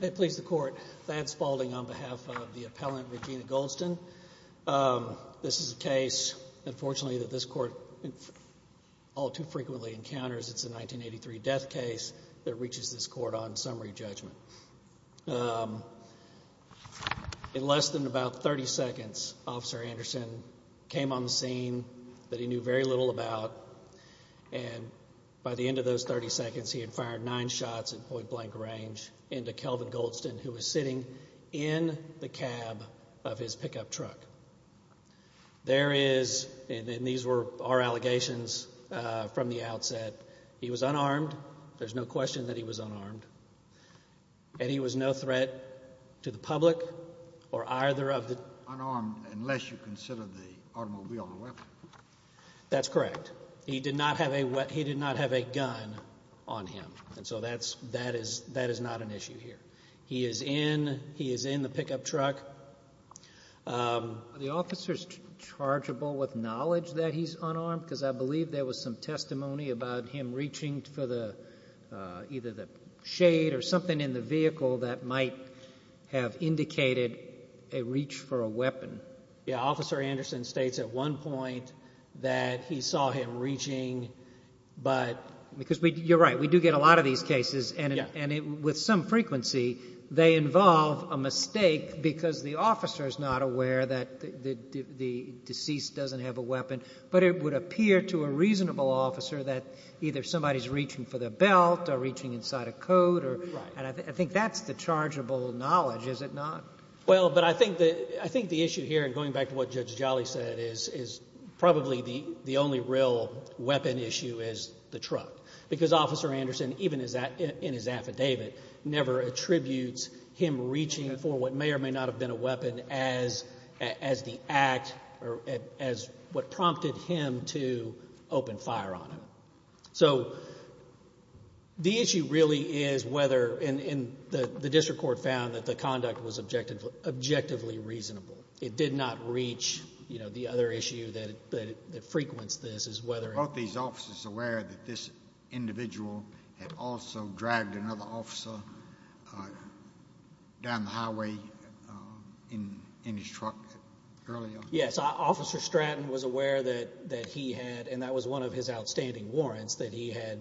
May it please the court, Thad Spaulding on behalf of the appellant Regina Goldston. This is a case, unfortunately, that this court all too frequently encounters. It's a 1983 death case that reaches this court on summary judgment. In less than about 30 seconds, Officer Anderson came on the scene that he knew very little about. And by the end of those 30 seconds, he had fired nine shots at point blank range into Kelvin Goldston, who was sitting in the cab of his pickup truck. There is, and these were our allegations from the outset, he was unarmed. There's no question that he was unarmed. And he was no threat to the public or either of the- Unarmed unless you consider the automobile a weapon. That's correct. He did not have a gun on him. And so that is not an issue here. He is in the pickup truck. Are the officers chargeable with knowledge that he's unarmed? Because I believe there was some testimony about him reaching for either the shade or something in the vehicle that might have indicated a reach for a weapon. Yeah, Officer Anderson states at one point that he saw him reaching, but- Because you're right, we do get a lot of these cases, and with some frequency, they involve a mistake because the officer is not aware that the deceased doesn't have a weapon. But it would appear to a reasonable officer that either somebody is reaching for the belt or reaching inside a coat, and I think that's the chargeable knowledge, is it not? Well, but I think the issue here, and going back to what Judge Jolly said, is probably the only real weapon issue is the truck, because Officer Anderson, even in his affidavit, never attributes him reaching for what may or may not have been a weapon as the act or as what prompted him to open fire on him. So the issue really is whether, and the district court found that the conduct was objectively reasonable. It did not reach the other issue that frequents this is whether- that this individual had also dragged another officer down the highway in his truck earlier? Yes, Officer Stratton was aware that he had, and that was one of his outstanding warrants, that he had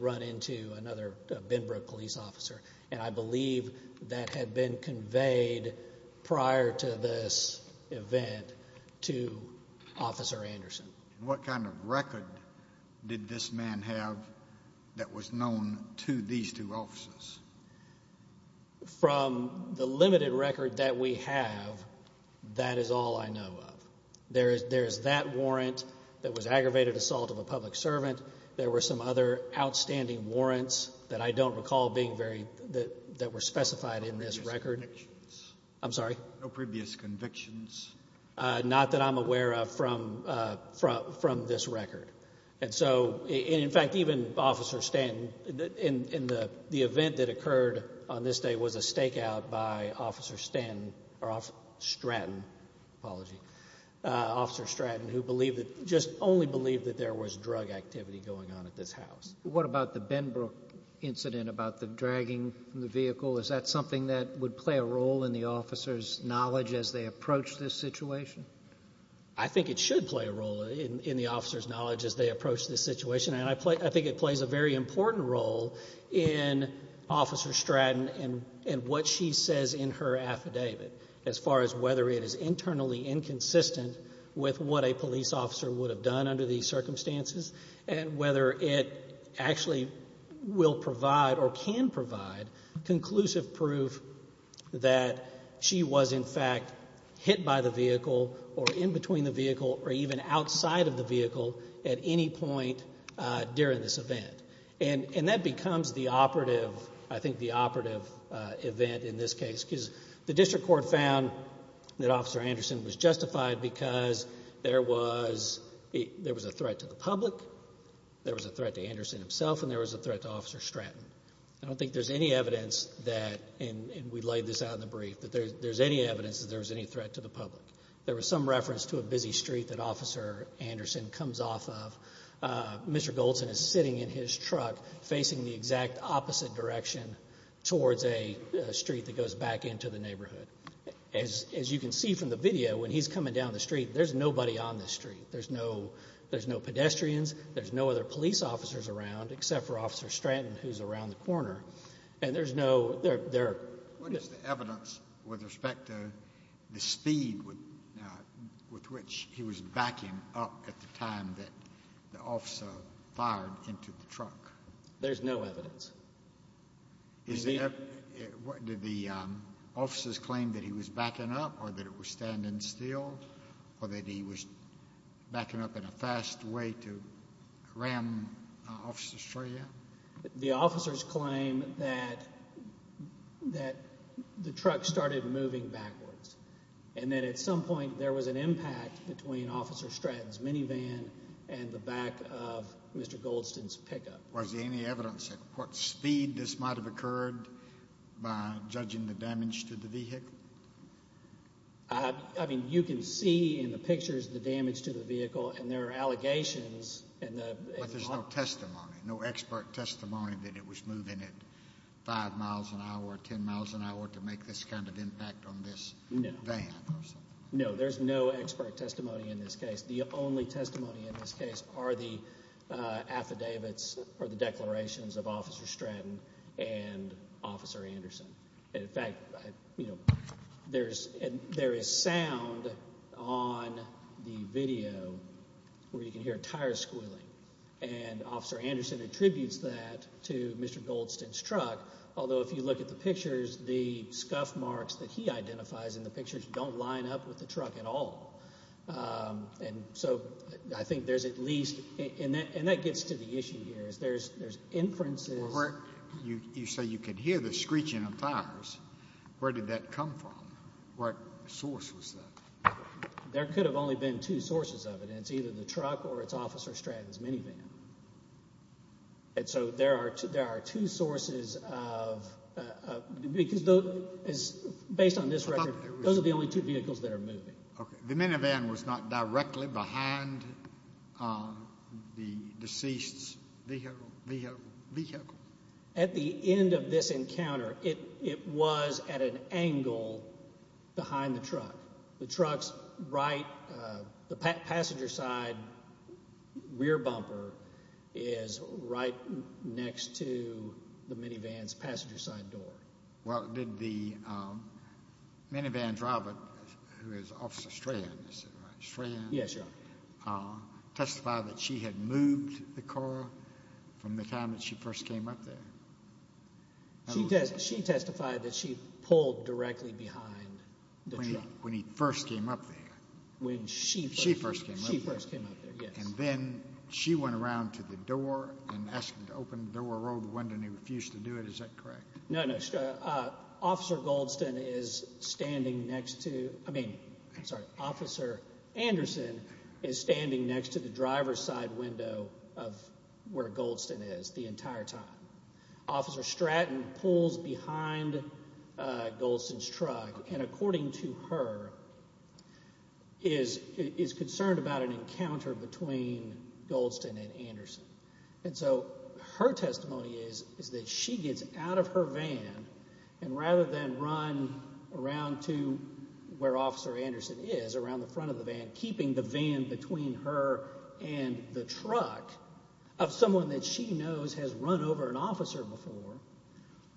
run into another Benbrook police officer, and I believe that had been conveyed prior to this event to Officer Anderson. What kind of record did this man have that was known to these two officers? From the limited record that we have, that is all I know of. There is that warrant that was aggravated assault of a public servant. There were some other outstanding warrants that I don't recall being very- that were specified in this record. No previous convictions? I'm sorry? No previous convictions? Not that I'm aware of from this record. And so, in fact, even Officer Stanton, in the event that occurred on this day was a stakeout by Officer Stanton, or Officer Stratton, apologies, Officer Stratton who believed that, just only believed that there was drug activity going on at this house. What about the Benbrook incident about the dragging from the vehicle? Is that something that would play a role in the officer's knowledge as they approach this situation? I think it should play a role in the officer's knowledge as they approach this situation, and I think it plays a very important role in Officer Stratton and what she says in her affidavit as far as whether it is internally inconsistent with what a police officer would have done under these circumstances and whether it actually will provide or can provide conclusive proof that she was, in fact, hit by the vehicle or in between the vehicle or even outside of the vehicle at any point during this event. And that becomes the operative, I think, the operative event in this case because the district court found that Officer Anderson was justified because there was a threat to the public, there was a threat to Anderson himself, and there was a threat to Officer Stratton. I don't think there's any evidence that, and we laid this out in the brief, that there's any evidence that there was any threat to the public. There was some reference to a busy street that Officer Anderson comes off of. Mr. Goldson is sitting in his truck facing the exact opposite direction towards a street that goes back into the neighborhood. As you can see from the video, when he's coming down the street, there's nobody on the street. There's no pedestrians. There's no other police officers around except for Officer Stratton who's around the corner. And there's no— What is the evidence with respect to the speed with which he was backing up at the time that the officer fired into the truck? There's no evidence. Did the officers claim that he was backing up or that it was standing still or that he was backing up in a fast way to ram Officer Stratton? The officers claim that the truck started moving backwards and that at some point there was an impact between Officer Stratton's minivan and the back of Mr. Goldston's pickup. Was there any evidence of what speed this might have occurred by judging the damage to the vehicle? I mean, you can see in the pictures the damage to the vehicle, and there are allegations. But there's no testimony, no expert testimony, that it was moving at 5 miles an hour, 10 miles an hour, to make this kind of impact on this van or something. No, there's no expert testimony in this case. The only testimony in this case are the affidavits or the declarations of Officer Stratton and Officer Anderson. In fact, there is sound on the video where you can hear tire squealing, and Officer Anderson attributes that to Mr. Goldston's truck, although if you look at the pictures, the scuff marks that he identifies in the pictures don't line up with the truck at all. And so I think there's at least, and that gets to the issue here, is there's inferences. You say you can hear the screeching of tires. Where did that come from? What source was that? There could have only been two sources of it, and it's either the truck or it's Officer Stratton's minivan. And so there are two sources of, because based on this record, those are the only two vehicles that are moving. The minivan was not directly behind the deceased's vehicle? At the end of this encounter, it was at an angle behind the truck. The passenger side rear bumper is right next to the minivan's passenger side door. Well, did the minivan driver, who is Officer Stratton, testify that she had moved the car from the time that she first came up there? She testified that she pulled directly behind the truck. When he first came up there. When she first came up there, yes. And then she went around to the door and asked him to open the door, rolled the window, and he refused to do it. Is that correct? No, no. Officer Anderson is standing next to the driver's side window of where Goldston is the entire time. Officer Stratton pulls behind Goldston's truck and, according to her, is concerned about an encounter between Goldston and Anderson. And so her testimony is that she gets out of her van and rather than run around to where Officer Anderson is, around the front of the van, keeping the van between her and the truck of someone that she knows has run over an officer before,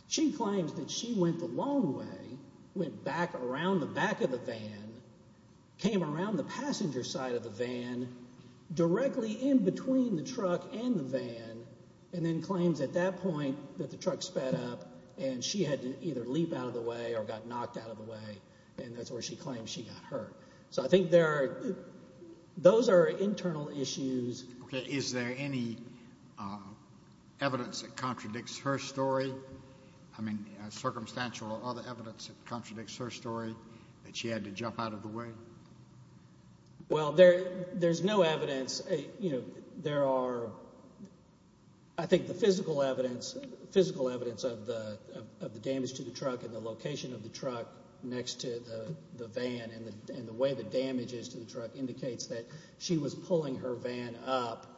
she claims that she went the long way, went back around the back of the van, came around the passenger side of the van, directly in between the truck and the van, and then claims at that point that the truck sped up and she had to either leap out of the way or got knocked out of the way, and that's where she claims she got hurt. So I think those are internal issues. Is there any evidence that contradicts her story? I mean, circumstantial or other evidence that contradicts her story that she had to jump out of the way? Well, there's no evidence. There are, I think, the physical evidence of the damage to the truck and the location of the truck next to the van and the way the damage is to the truck indicates that she was pulling her van up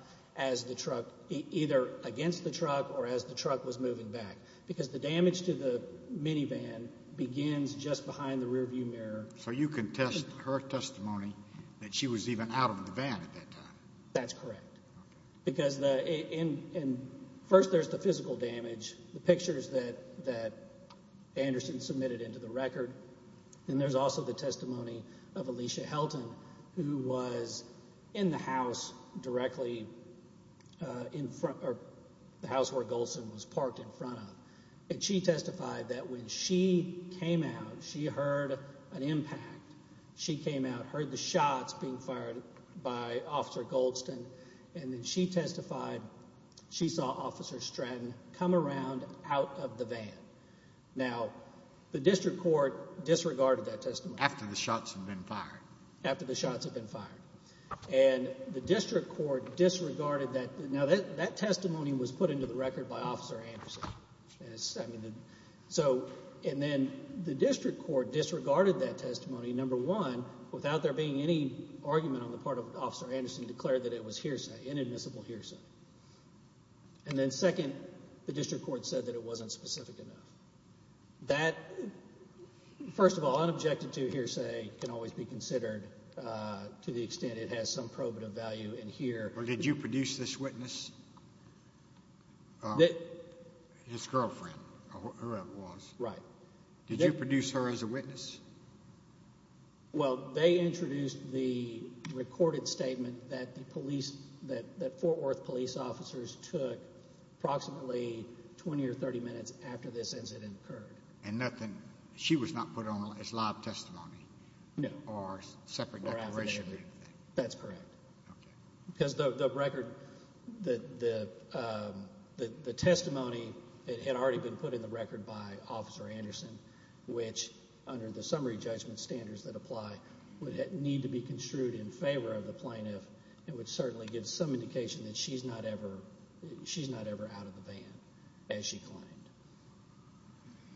either against the truck or as the truck was moving back because the damage to the minivan begins just behind the rearview mirror. So you can test her testimony that she was even out of the van at that time? That's correct, because first there's the physical damage, the pictures that Anderson submitted into the record, and there's also the testimony of Alicia Helton, who was in the house directly in front of the house where Goldston was parked in front of, and she testified that when she came out, she heard an impact. She came out, heard the shots being fired by Officer Goldston, and then she testified she saw Officer Stratton come around out of the van. Now, the district court disregarded that testimony. After the shots had been fired? After the shots had been fired. And the district court disregarded that. Now, that testimony was put into the record by Officer Anderson. And then the district court disregarded that testimony, number one, without there being any argument on the part of Officer Anderson to declare that it was hearsay, inadmissible hearsay. And then second, the district court said that it wasn't specific enough. That, first of all, unobjected to hearsay can always be considered to the extent it has some probative value in here. But did you produce this witness? His girlfriend, whoever it was. Right. Did you produce her as a witness? Well, they introduced the recorded statement that the police, that Fort Worth police officers took approximately 20 or 30 minutes after this incident occurred. And nothing, she was not put on as live testimony? No. Or separate declaration or anything? That's correct. Okay. Because the record, the testimony, it had already been put in the record by Officer Anderson, which under the summary judgment standards that apply, would need to be construed in favor of the plaintiff and would certainly give some indication that she's not ever out of the van, as she claimed.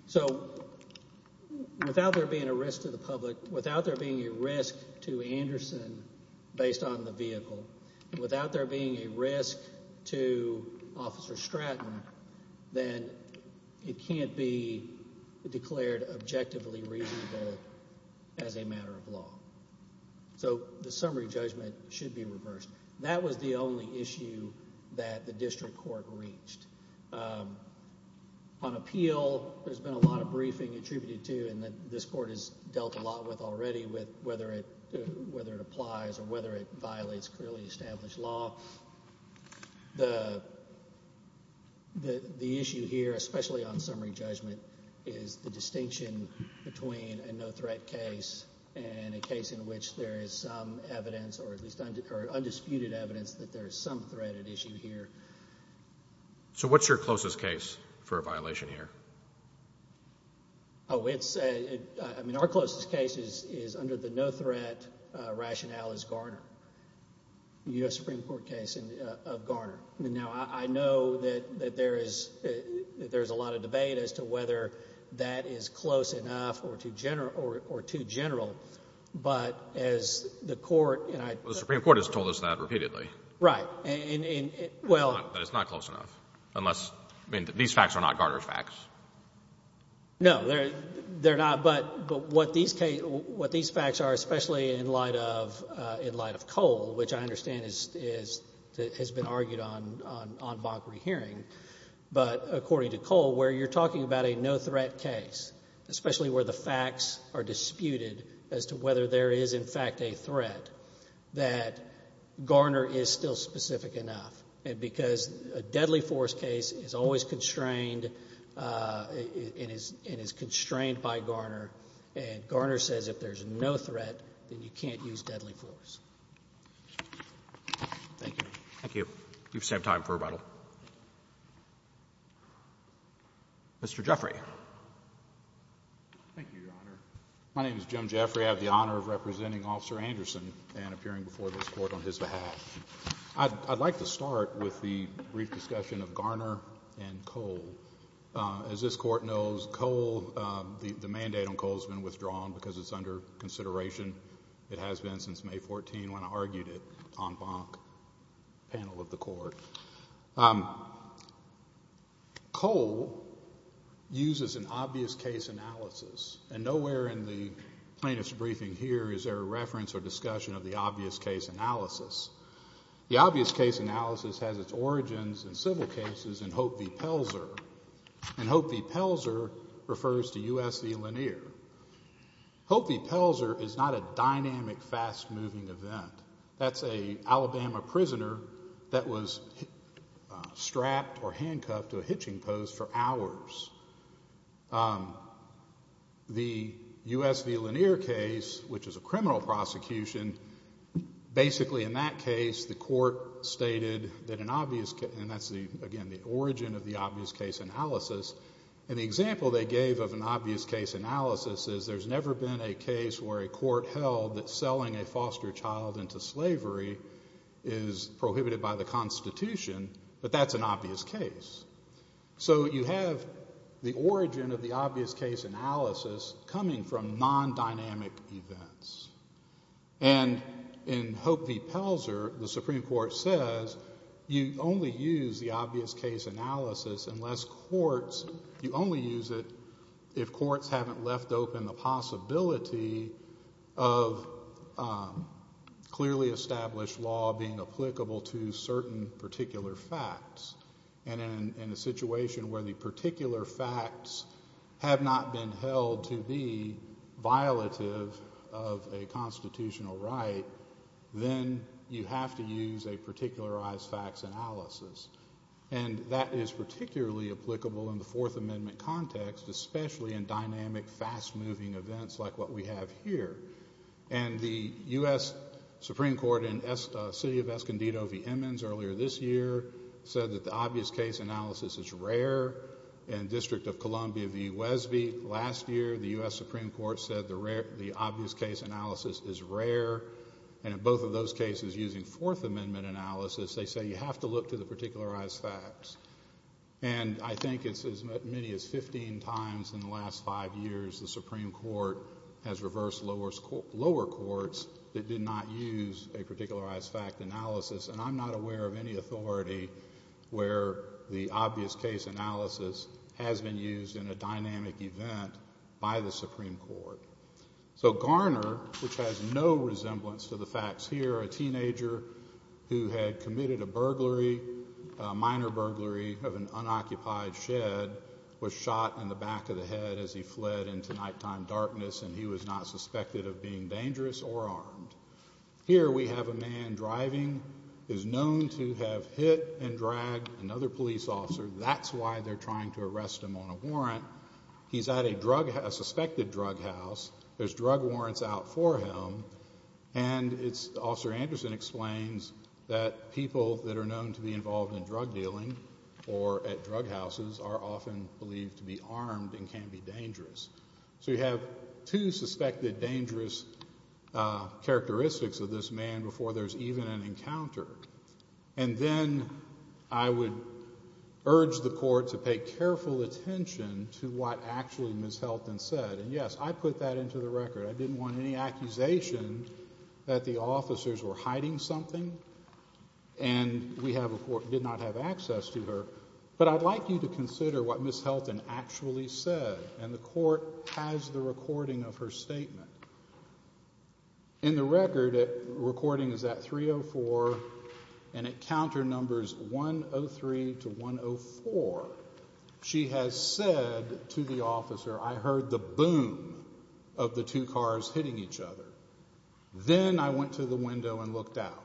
So without there being a risk to the public, without there being a risk to Anderson based on the vehicle, without there being a risk to Officer Stratton, then it can't be declared objectively reasonable as a matter of law. So the summary judgment should be reversed. That was the only issue that the district court reached. On appeal, there's been a lot of briefing attributed to, and this court has dealt a lot with already, whether it applies or whether it violates clearly established law. The issue here, especially on summary judgment, is the distinction between a no-threat case and a case in which there is some evidence, or at least undisputed evidence, that there is some threat at issue here. So what's your closest case for a violation here? Our closest case is under the no-threat rationale as Garner, the U.S. Supreme Court case of Garner. Now, I know that there is a lot of debate as to whether that is close enough or too general, but as the court and I— Well, the Supreme Court has told us that repeatedly. Right. But it's not close enough unless—I mean, these facts are not Garner's facts. No, they're not, but what these facts are, especially in light of Cole, which I understand has been argued on mock rehearing, but according to Cole, where you're talking about a no-threat case, especially where the facts are disputed as to whether there is in fact a threat, that Garner is still specific enough. And because a deadly force case is always constrained and is constrained by Garner, and Garner says if there's no threat, then you can't use deadly force. Thank you. Thank you. You just have time for rebuttal. Mr. Jeffrey. Thank you, Your Honor. My name is Jim Jeffrey. I have the honor of representing Officer Anderson and appearing before this Court on his behalf. I'd like to start with the brief discussion of Garner and Cole. As this Court knows, Cole, the mandate on Cole has been withdrawn because it's under consideration. It has been since May 14 when I argued it on mock panel of the Court. Cole uses an obvious case analysis, and nowhere in the plaintiff's briefing here is there a reference or discussion of the obvious case analysis. The obvious case analysis has its origins in civil cases in Hope v. Pelzer, and Hope v. Pelzer refers to U.S. v. Lanier. Hope v. Pelzer is not a dynamic, fast-moving event. That's an Alabama prisoner that was strapped or handcuffed to a hitching post for hours. The U.S. v. Lanier case, which is a criminal prosecution, basically in that case the Court stated that an obvious case, and that's, again, the origin of the obvious case analysis, and the example they gave of an obvious case analysis is there's never been a case where a court held that selling a foster child into slavery is prohibited by the Constitution, but that's an obvious case. So you have the origin of the obvious case analysis coming from non-dynamic events. And in Hope v. Pelzer, the Supreme Court says you only use the obvious case analysis unless courts, you only use it if courts haven't left open the possibility of clearly established law being applicable to certain particular facts, and in a situation where the particular facts have not been held to be violative of a constitutional right, then you have to use a particularized facts analysis. And that is particularly applicable in the Fourth Amendment context, especially in dynamic, fast-moving events like what we have here. And the U.S. Supreme Court in the city of Escondido v. Emmons earlier this year said that the obvious case analysis is rare, and District of Columbia v. Wesby last year, the U.S. Supreme Court said the obvious case analysis is rare, and in both of those cases using Fourth Amendment analysis, they say you have to look to the particularized facts. And I think it's as many as 15 times in the last five years the Supreme Court has reversed lower courts that did not use a particularized fact analysis, and I'm not aware of any authority where the obvious case analysis has been used in a dynamic event by the Supreme Court. So Garner, which has no resemblance to the facts here, a teenager who had committed a burglary, a minor burglary of an unoccupied shed, was shot in the back of the head as he fled into nighttime darkness, and he was not suspected of being dangerous or armed. Here we have a man driving, who's known to have hit and dragged another police officer. That's why they're trying to arrest him on a warrant. He's at a suspected drug house. There's drug warrants out for him, and Officer Anderson explains that people that are known to be involved in drug dealing or at drug houses are often believed to be armed and can be dangerous. So you have two suspected dangerous characteristics of this man before there's even an encounter. And then I would urge the court to pay careful attention to what actually Ms. Helton said. And, yes, I put that into the record. I didn't want any accusation that the officers were hiding something and we did not have access to her. But I'd like you to consider what Ms. Helton actually said, and the court has the recording of her statement. In the record, the recording is at 3.04, and at counter numbers 1.03 to 1.04, she has said to the officer, I heard the boom of the two cars hitting each other. Then I went to the window and looked out.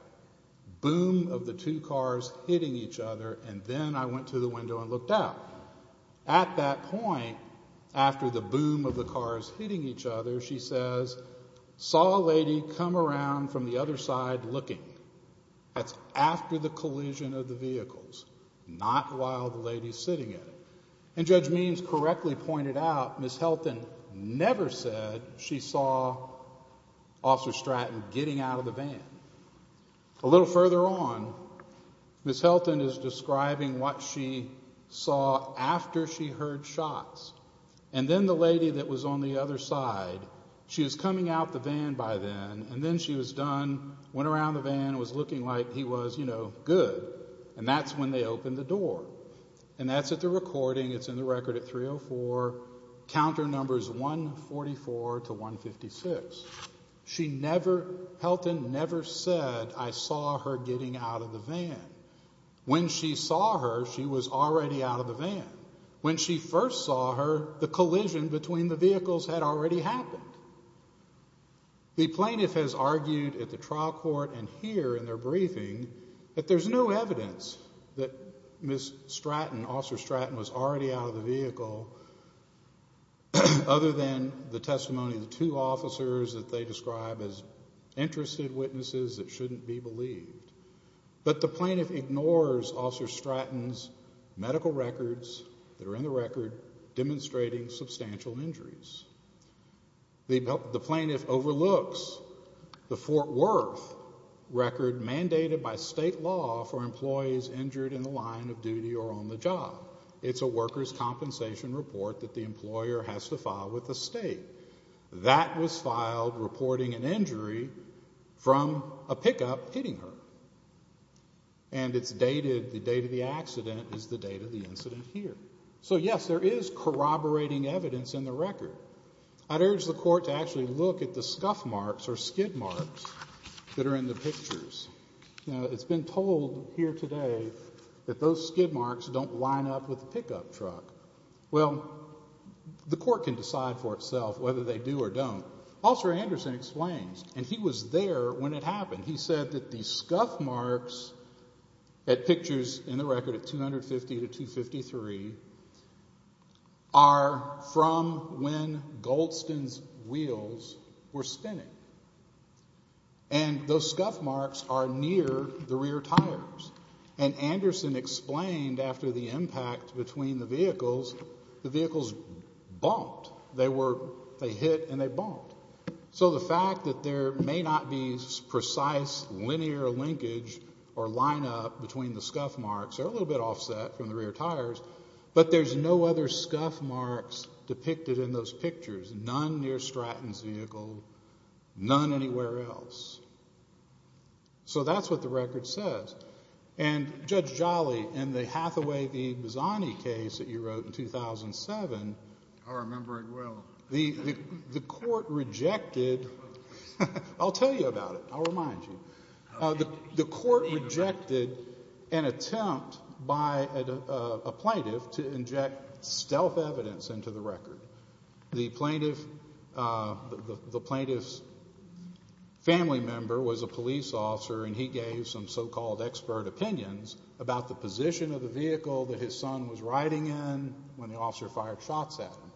Boom of the two cars hitting each other, and then I went to the window and looked out. At that point, after the boom of the cars hitting each other, she says, saw a lady come around from the other side looking. That's after the collision of the vehicles, not while the lady's sitting in it. And Judge Means correctly pointed out Ms. Helton never said she saw Officer Stratton getting out of the van. A little further on, Ms. Helton is describing what she saw after she heard shots. And then the lady that was on the other side, she was coming out the van by then, and then she was done, went around the van and was looking like he was, you know, good. And that's when they opened the door. And that's at the recording, it's in the record at 3.04, counter numbers 1.44 to 1.56. She never, Helton never said, I saw her getting out of the van. When she saw her, she was already out of the van. When she first saw her, the collision between the vehicles had already happened. The plaintiff has argued at the trial court and here in their briefing that there's no evidence that Ms. Stratton, Officer Stratton, was already out of the vehicle other than the testimony of the two officers that they describe as interested witnesses that shouldn't be believed. But the plaintiff ignores Officer Stratton's medical records that are in the record demonstrating substantial injuries. The plaintiff overlooks the Fort Worth record mandated by state law for employees injured in the line of duty or on the job. It's a worker's compensation report that the employer has to file with the state. That was filed reporting an injury from a pickup hitting her. And it's dated, the date of the accident is the date of the incident here. So, yes, there is corroborating evidence in the record. I'd urge the court to actually look at the scuff marks or skid marks that are in the pictures. You know, it's been told here today that those skid marks don't line up with the pickup truck. Well, the court can decide for itself whether they do or don't. Officer Anderson explains, and he was there when it happened. He said that the scuff marks at pictures in the record at 250 to 253 are from when Goldston's wheels were spinning. And those scuff marks are near the rear tires. And Anderson explained after the impact between the vehicles, the vehicles bumped. They hit and they bumped. So the fact that there may not be precise linear linkage or lineup between the scuff marks, they're a little bit offset from the rear tires, but there's no other scuff marks depicted in those pictures, none near Stratton's vehicle, none anywhere else. So that's what the record says. And Judge Jolly, in the Hathaway v. Bazzani case that you wrote in 2007... I remember it well. ...the court rejected... I'll tell you about it. I'll remind you. The court rejected an attempt by a plaintiff to inject stealth evidence into the record. The plaintiff's family member was a police officer and he gave some so-called expert opinions about the position of the vehicle that his son was riding in when the officer fired shots at him.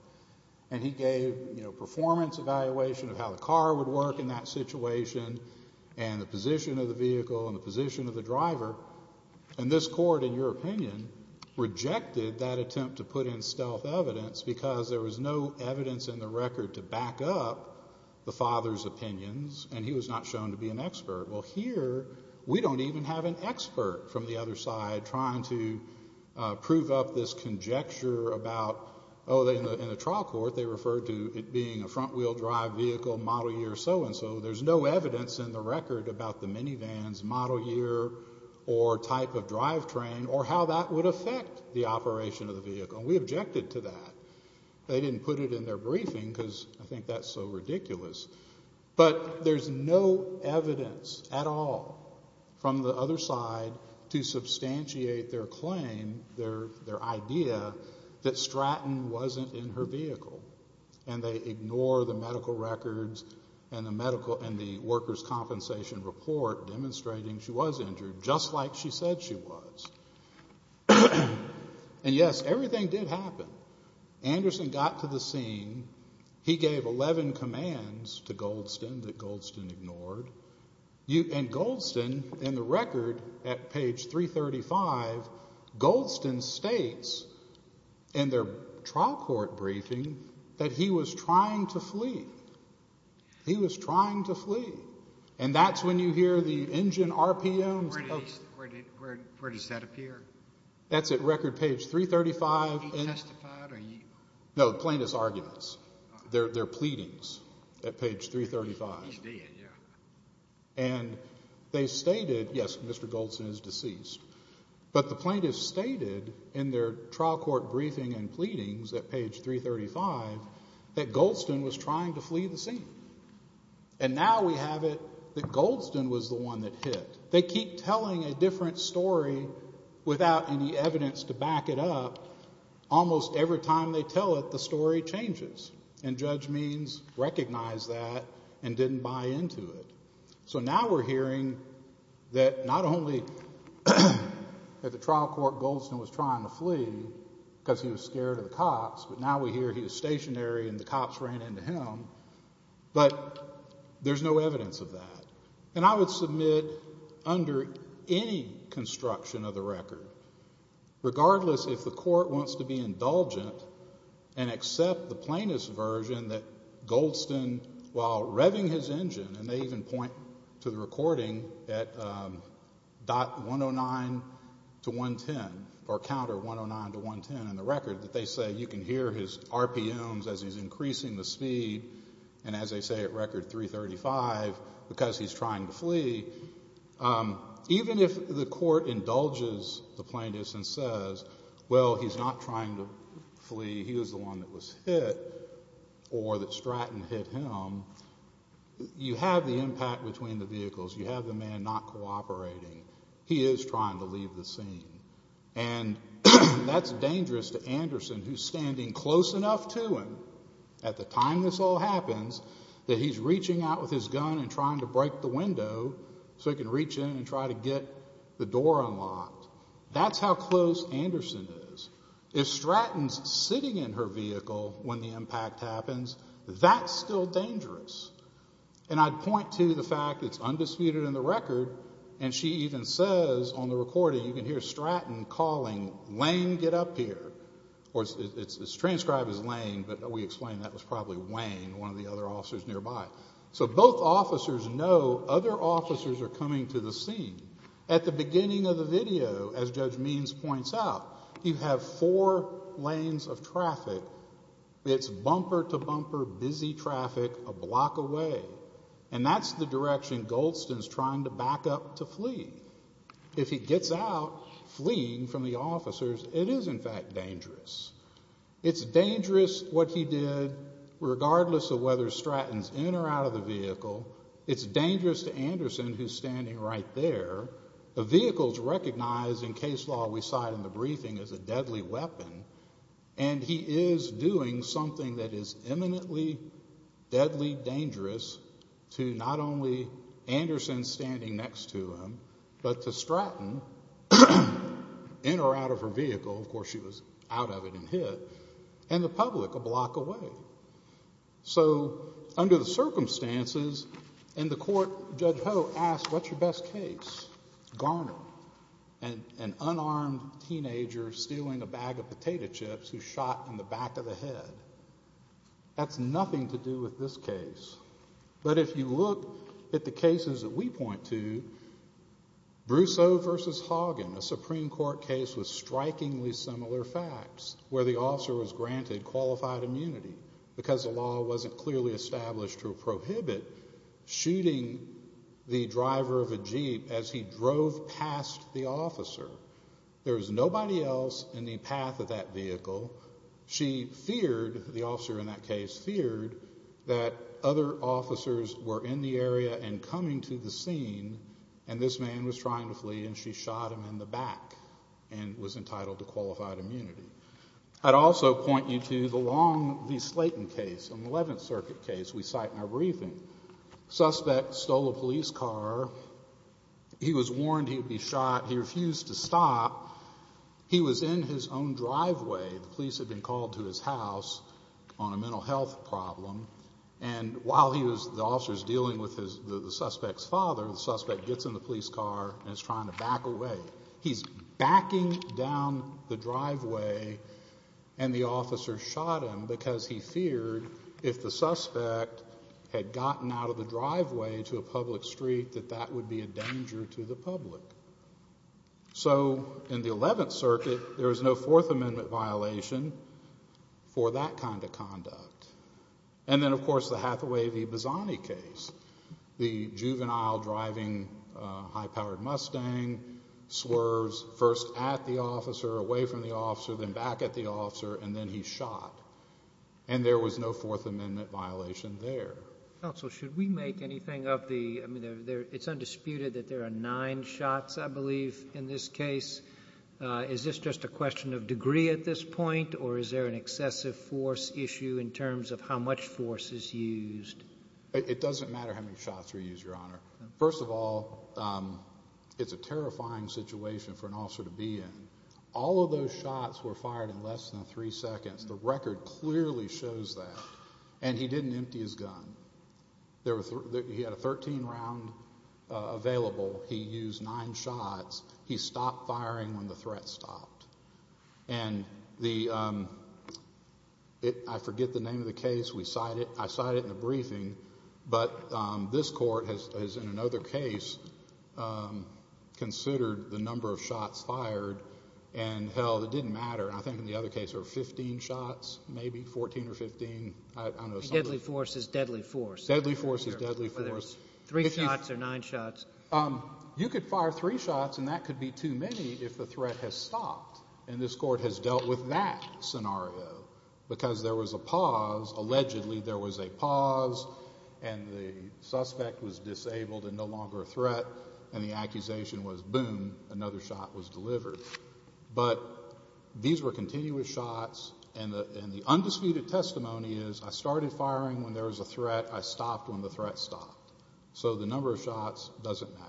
And he gave a performance evaluation of how the car would work in that situation and the position of the vehicle and the position of the driver. And this court, in your opinion, rejected that attempt to put in stealth evidence because there was no evidence in the record to back up the father's opinions and he was not shown to be an expert. Well, here we don't even have an expert from the other side trying to prove up this conjecture about, oh, in the trial court they referred to it being a front-wheel drive vehicle, model year, so-and-so. There's no evidence in the record about the minivan's model year or type of drive train or how that would affect the operation of the vehicle. And we objected to that. They didn't put it in their briefing because I think that's so ridiculous. But there's no evidence at all from the other side to substantiate their claim, their idea, that Stratton wasn't in her vehicle. And they ignore the medical records and the workers' compensation report demonstrating she was injured, just like she said she was. And, yes, everything did happen. Anderson got to the scene. He gave 11 commands to Goldston that Goldston ignored. And Goldston, in the record at page 335, Goldston states in their trial court briefing that he was trying to flee. He was trying to flee. And that's when you hear the engine RPMs. Where does that appear? That's at record page 335. Did he testify? No, plaintiffs' arguments, their pleadings at page 335. He did, yeah. And they stated, yes, Mr. Goldston is deceased. But the plaintiffs stated in their trial court briefing and pleadings at page 335 that Goldston was trying to flee the scene. And now we have it that Goldston was the one that hit. They keep telling a different story without any evidence to back it up. Almost every time they tell it, the story changes. And judge means recognize that and didn't buy into it. So now we're hearing that not only at the trial court Goldston was trying to flee because he was scared of the cops, but now we hear he was stationary and the cops ran into him, but there's no evidence of that. And I would submit under any construction of the record, regardless if the court wants to be indulgent and accept the plaintiff's version that Goldston, while revving his engine, and they even point to the recording at .109-110 or counter 109-110 in the record, that they say you can hear his RPMs as he's increasing the speed, and as they say at record 335, because he's trying to flee. Even if the court indulges the plaintiff and says, well, he's not trying to flee, he was the one that was hit or that Stratton hit him, you have the impact between the vehicles. You have the man not cooperating. He is trying to leave the scene. And that's dangerous to Anderson, who's standing close enough to him at the time this all happens that he's reaching out with his gun and trying to break the window so he can reach in and try to get the door unlocked. That's how close Anderson is. If Stratton's sitting in her vehicle when the impact happens, that's still dangerous. And I'd point to the fact it's undisputed in the record, and she even says on the recording, you can hear Stratton calling, Lane, get up here. It's transcribed as Lane, but we explained that was probably Wayne, one of the other officers nearby. So both officers know other officers are coming to the scene. At the beginning of the video, as Judge Means points out, you have four lanes of traffic. It's bumper-to-bumper busy traffic a block away, and that's the direction Goldston's trying to back up to flee. If he gets out fleeing from the officers, it is in fact dangerous. It's dangerous what he did, regardless of whether Stratton's in or out of the vehicle. It's dangerous to Anderson, who's standing right there. The vehicle's recognized in case law we cite in the briefing as a deadly weapon, and he is doing something that is eminently deadly dangerous to not only Anderson standing next to him, but to Stratton, in or out of her vehicle, of course she was out of it and hit, and the public a block away. So under the circumstances in the court, Judge Ho asked, what's your best case? Garner, an unarmed teenager stealing a bag of potato chips who's shot in the back of the head. That's nothing to do with this case. But if you look at the cases that we point to, Brousseau v. Hagen, a Supreme Court case with strikingly similar facts, where the officer was granted qualified immunity because the law wasn't clearly established to prohibit shooting the driver of a Jeep as he drove past the officer. There was nobody else in the path of that vehicle. She feared, the officer in that case feared, that other officers were in the area and coming to the scene, and this man was trying to flee, and she shot him in the back and was entitled to qualified immunity. I'd also point you to the Long v. Slayton case, an 11th Circuit case we cite in our briefing. Suspect stole a police car. He was warned he'd be shot. He refused to stop. He was in his own driveway. The police had been called to his house on a mental health problem, and while the officer's dealing with the suspect's father, the suspect gets in the police car and is trying to back away. He's backing down the driveway, and the officer shot him because he feared if the suspect had gotten out of the driveway to a public street that that would be a danger to the public. So in the 11th Circuit, there was no Fourth Amendment violation for that kind of conduct. And then, of course, the Hathaway v. Bazzani case, the juvenile driving a high-powered Mustang, swerves first at the officer, away from the officer, then back at the officer, and then he's shot, and there was no Fourth Amendment violation there. Counsel, should we make anything of the... shots, I believe, in this case? Is this just a question of degree at this point, or is there an excessive force issue in terms of how much force is used? It doesn't matter how many shots were used, Your Honor. First of all, it's a terrifying situation for an officer to be in. All of those shots were fired in less than three seconds. The record clearly shows that. And he didn't empty his gun. He had a 13-round available. He used nine shots. He stopped firing when the threat stopped. And the... I forget the name of the case. We cite it. I cite it in the briefing. But this Court has, in another case, considered the number of shots fired, and, hell, it didn't matter. I think in the other case there were 15 shots, maybe, 14 or 15. I don't know. Deadly force is deadly force. Deadly force is deadly force. Whether it's three shots or nine shots. You could fire three shots, and that could be too many if the threat has stopped. And this Court has dealt with that scenario because there was a pause. Allegedly there was a pause, and the suspect was disabled and no longer a threat, and the accusation was, boom, another shot was delivered. But these were continuous shots, and the undisputed testimony is I started firing when there was a threat. I stopped when the threat stopped. So the number of shots doesn't matter.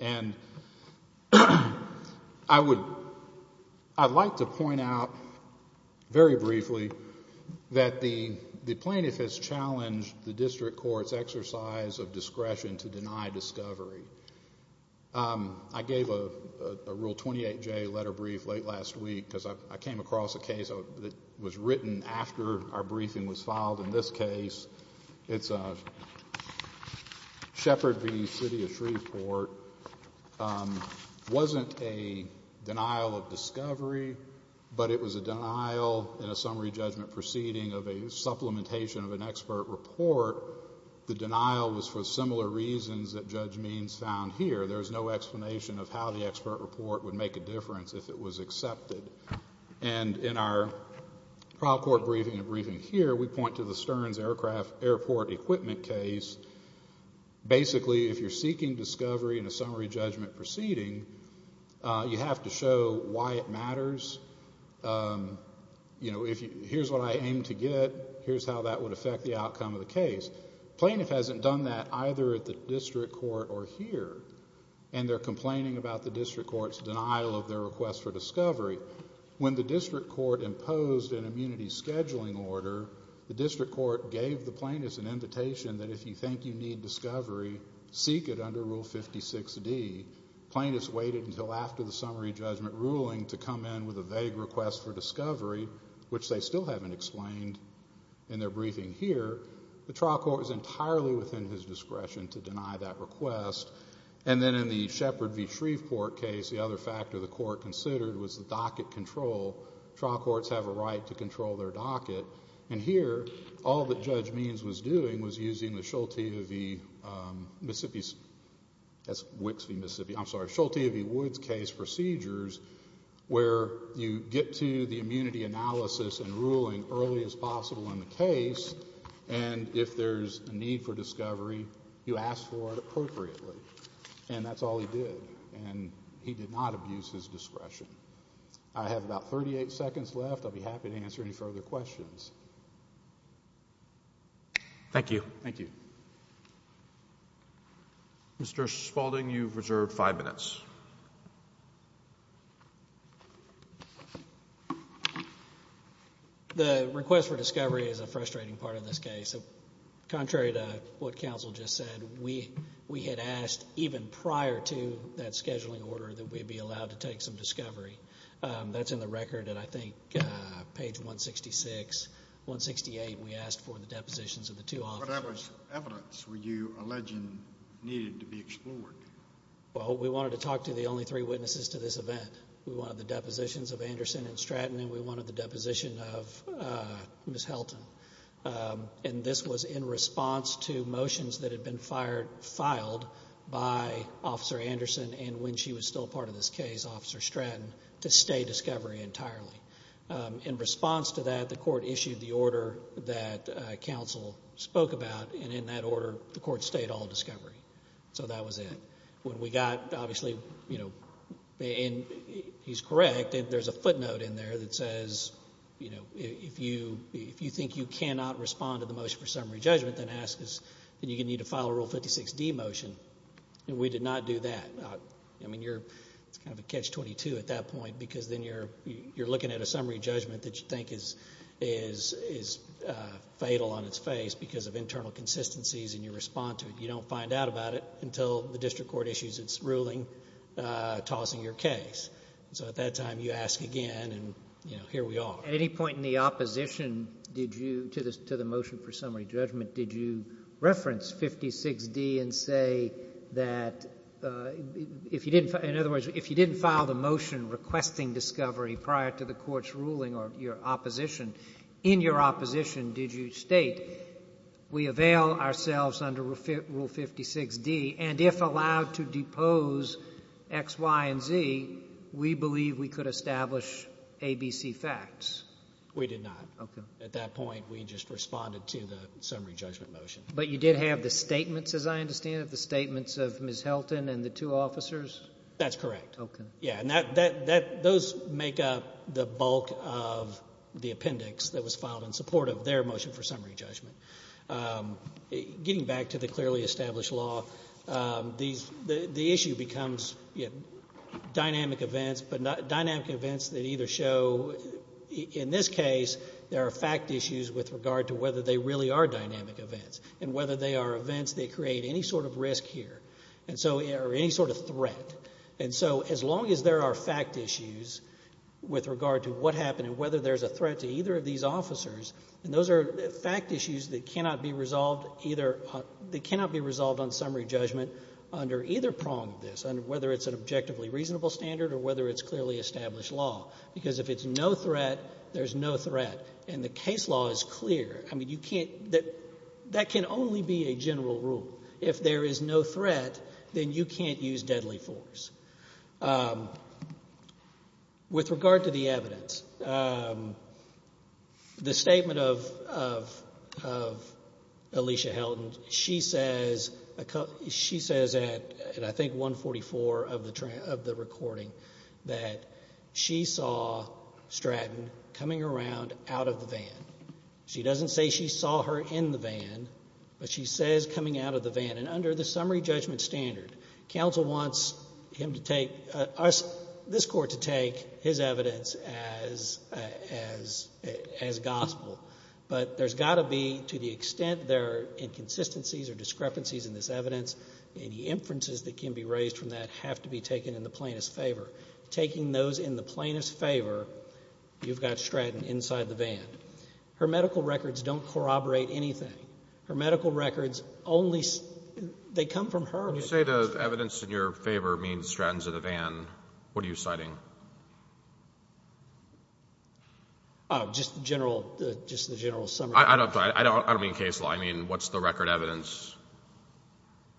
And I would like to point out very briefly that the plaintiff has challenged the district court's exercise of discretion to deny discovery. I gave a Rule 28J letter brief late last week because I came across a case that was written after our briefing was filed in this case. It's Shepard v. City of Shreveport. It wasn't a denial of discovery, but it was a denial in a summary judgment proceeding of a supplementation of an expert report. The denial was for similar reasons that Judge Means found here. There was no explanation of how the expert report would make a difference if it was accepted. And in our trial court briefing and briefing here, we point to the Stearns Airport equipment case. Basically, if you're seeking discovery in a summary judgment proceeding, you have to show why it matters. You know, here's what I aim to get. Here's how that would affect the outcome of the case. Plaintiff hasn't done that either at the district court or here, and they're complaining about the district court's denial of their request for discovery. When the district court imposed an immunity scheduling order, the district court gave the plaintiffs an invitation that if you think you need discovery, seek it under Rule 56D. Plaintiffs waited until after the summary judgment ruling to come in with a vague request for discovery, which they still haven't explained in their briefing here. The trial court was entirely within his discretion to deny that request. And then in the Shepard v. Shreveport case, the other factor the court considered was the docket control. Trial courts have a right to control their docket. And here, all that Judge Means was doing was using the Schulte v. Mississippi's – that's Wix v. Mississippi, I'm sorry – Schulte v. Woods case procedures where you get to the immunity analysis and ruling as early as possible in the case, and if there's a need for discovery, you ask for it appropriately. And that's all he did. And he did not abuse his discretion. I have about 38 seconds left. I'll be happy to answer any further questions. Thank you. Thank you. Thank you. Mr. Spaulding, you've reserved five minutes. The request for discovery is a frustrating part of this case. Contrary to what counsel just said, we had asked even prior to that scheduling order that we be allowed to take some discovery. That's in the record, and I think page 166, 168, we asked for the depositions of the two officers. What evidence were you alleging needed to be explored? Well, we wanted to talk to the only three witnesses to this event. We wanted the depositions of Anderson and Stratton, and we wanted the deposition of Ms. Helton. And this was in response to motions that had been filed by Officer Anderson and when she was still part of this case, Officer Stratton, to stay discovery entirely. In response to that, the court issued the order that counsel spoke about, and in that order the court stayed all discovery. So that was it. When we got, obviously, you know, and he's correct, there's a footnote in there that says, you know, if you think you cannot respond to the motion for summary judgment, then you're going to need to file a Rule 56D motion, and we did not do that. I mean, it's kind of a catch-22 at that point, because then you're looking at a summary judgment that you think is fatal on its face because of internal consistencies and you respond to it. You don't find out about it until the district court issues its ruling, tossing your case. So at that time you ask again, and, you know, here we are. At any point in the opposition to the motion for summary judgment, did you reference 56D and say that, in other words, if you didn't file the motion requesting discovery prior to the court's ruling or your opposition, in your opposition did you state, we avail ourselves under Rule 56D, and if allowed to depose X, Y, and Z, we believe we could establish ABC facts? We did not. Okay. At that point we just responded to the summary judgment motion. But you did have the statements, as I understand it, the statements of Ms. Helton and the two officers? That's correct. Okay. Yeah, and those make up the bulk of the appendix that was filed in support of their motion for summary judgment. Getting back to the clearly established law, the issue becomes dynamic events, but dynamic events that either show, in this case, there are fact issues with regard to whether they really are dynamic events, and whether they are events that create any sort of risk here or any sort of threat. And so as long as there are fact issues with regard to what happened and whether there's a threat to either of these officers, and those are fact issues that cannot be resolved on summary judgment under either prong of this, whether it's an objectively reasonable standard or whether it's clearly established law. Because if it's no threat, there's no threat. And the case law is clear. That can only be a general rule. If there is no threat, then you can't use deadly force. With regard to the evidence, the statement of Alicia Helton, she says at I think 144 of the recording that she saw Stratton coming around out of the van. She doesn't say she saw her in the van, but she says coming out of the van. And under the summary judgment standard, counsel wants him to take, this Court to take his evidence as gospel. But there's got to be, to the extent there are inconsistencies or discrepancies in this evidence, any inferences that can be raised from that have to be taken in the plaintiff's favor. Taking those in the plaintiff's favor, you've got Stratton inside the van. Her medical records don't corroborate anything. Her medical records only, they come from her. When you say the evidence in your favor means Stratton's in the van, what are you citing? Just the general summary. I don't mean case law. I mean what's the record evidence?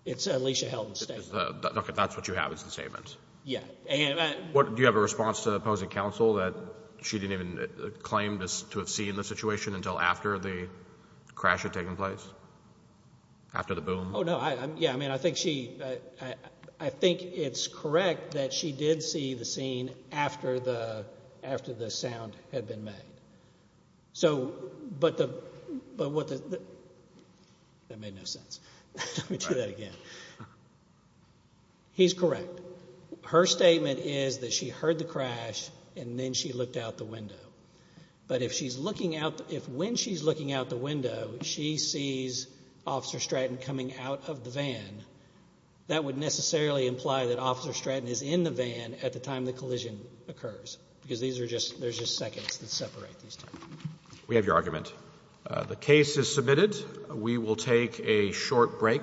It's Alicia Helton's statement. That's what you have as the statement? Yeah. Do you have a response to the opposing counsel that she didn't even claim to have seen the situation until after the crash had taken place, after the boom? Oh, no. Yeah, I mean I think she, I think it's correct that she did see the scene after the sound had been made. So, but what the, that made no sense. Let me do that again. He's correct. Her statement is that she heard the crash and then she looked out the window. But if she's looking out, if when she's looking out the window she sees Officer Stratton coming out of the van, that would necessarily imply that Officer Stratton is in the van at the time the collision occurs. Because these are just, there's just seconds that separate these two. We have your argument. The case is submitted. We will take a short break.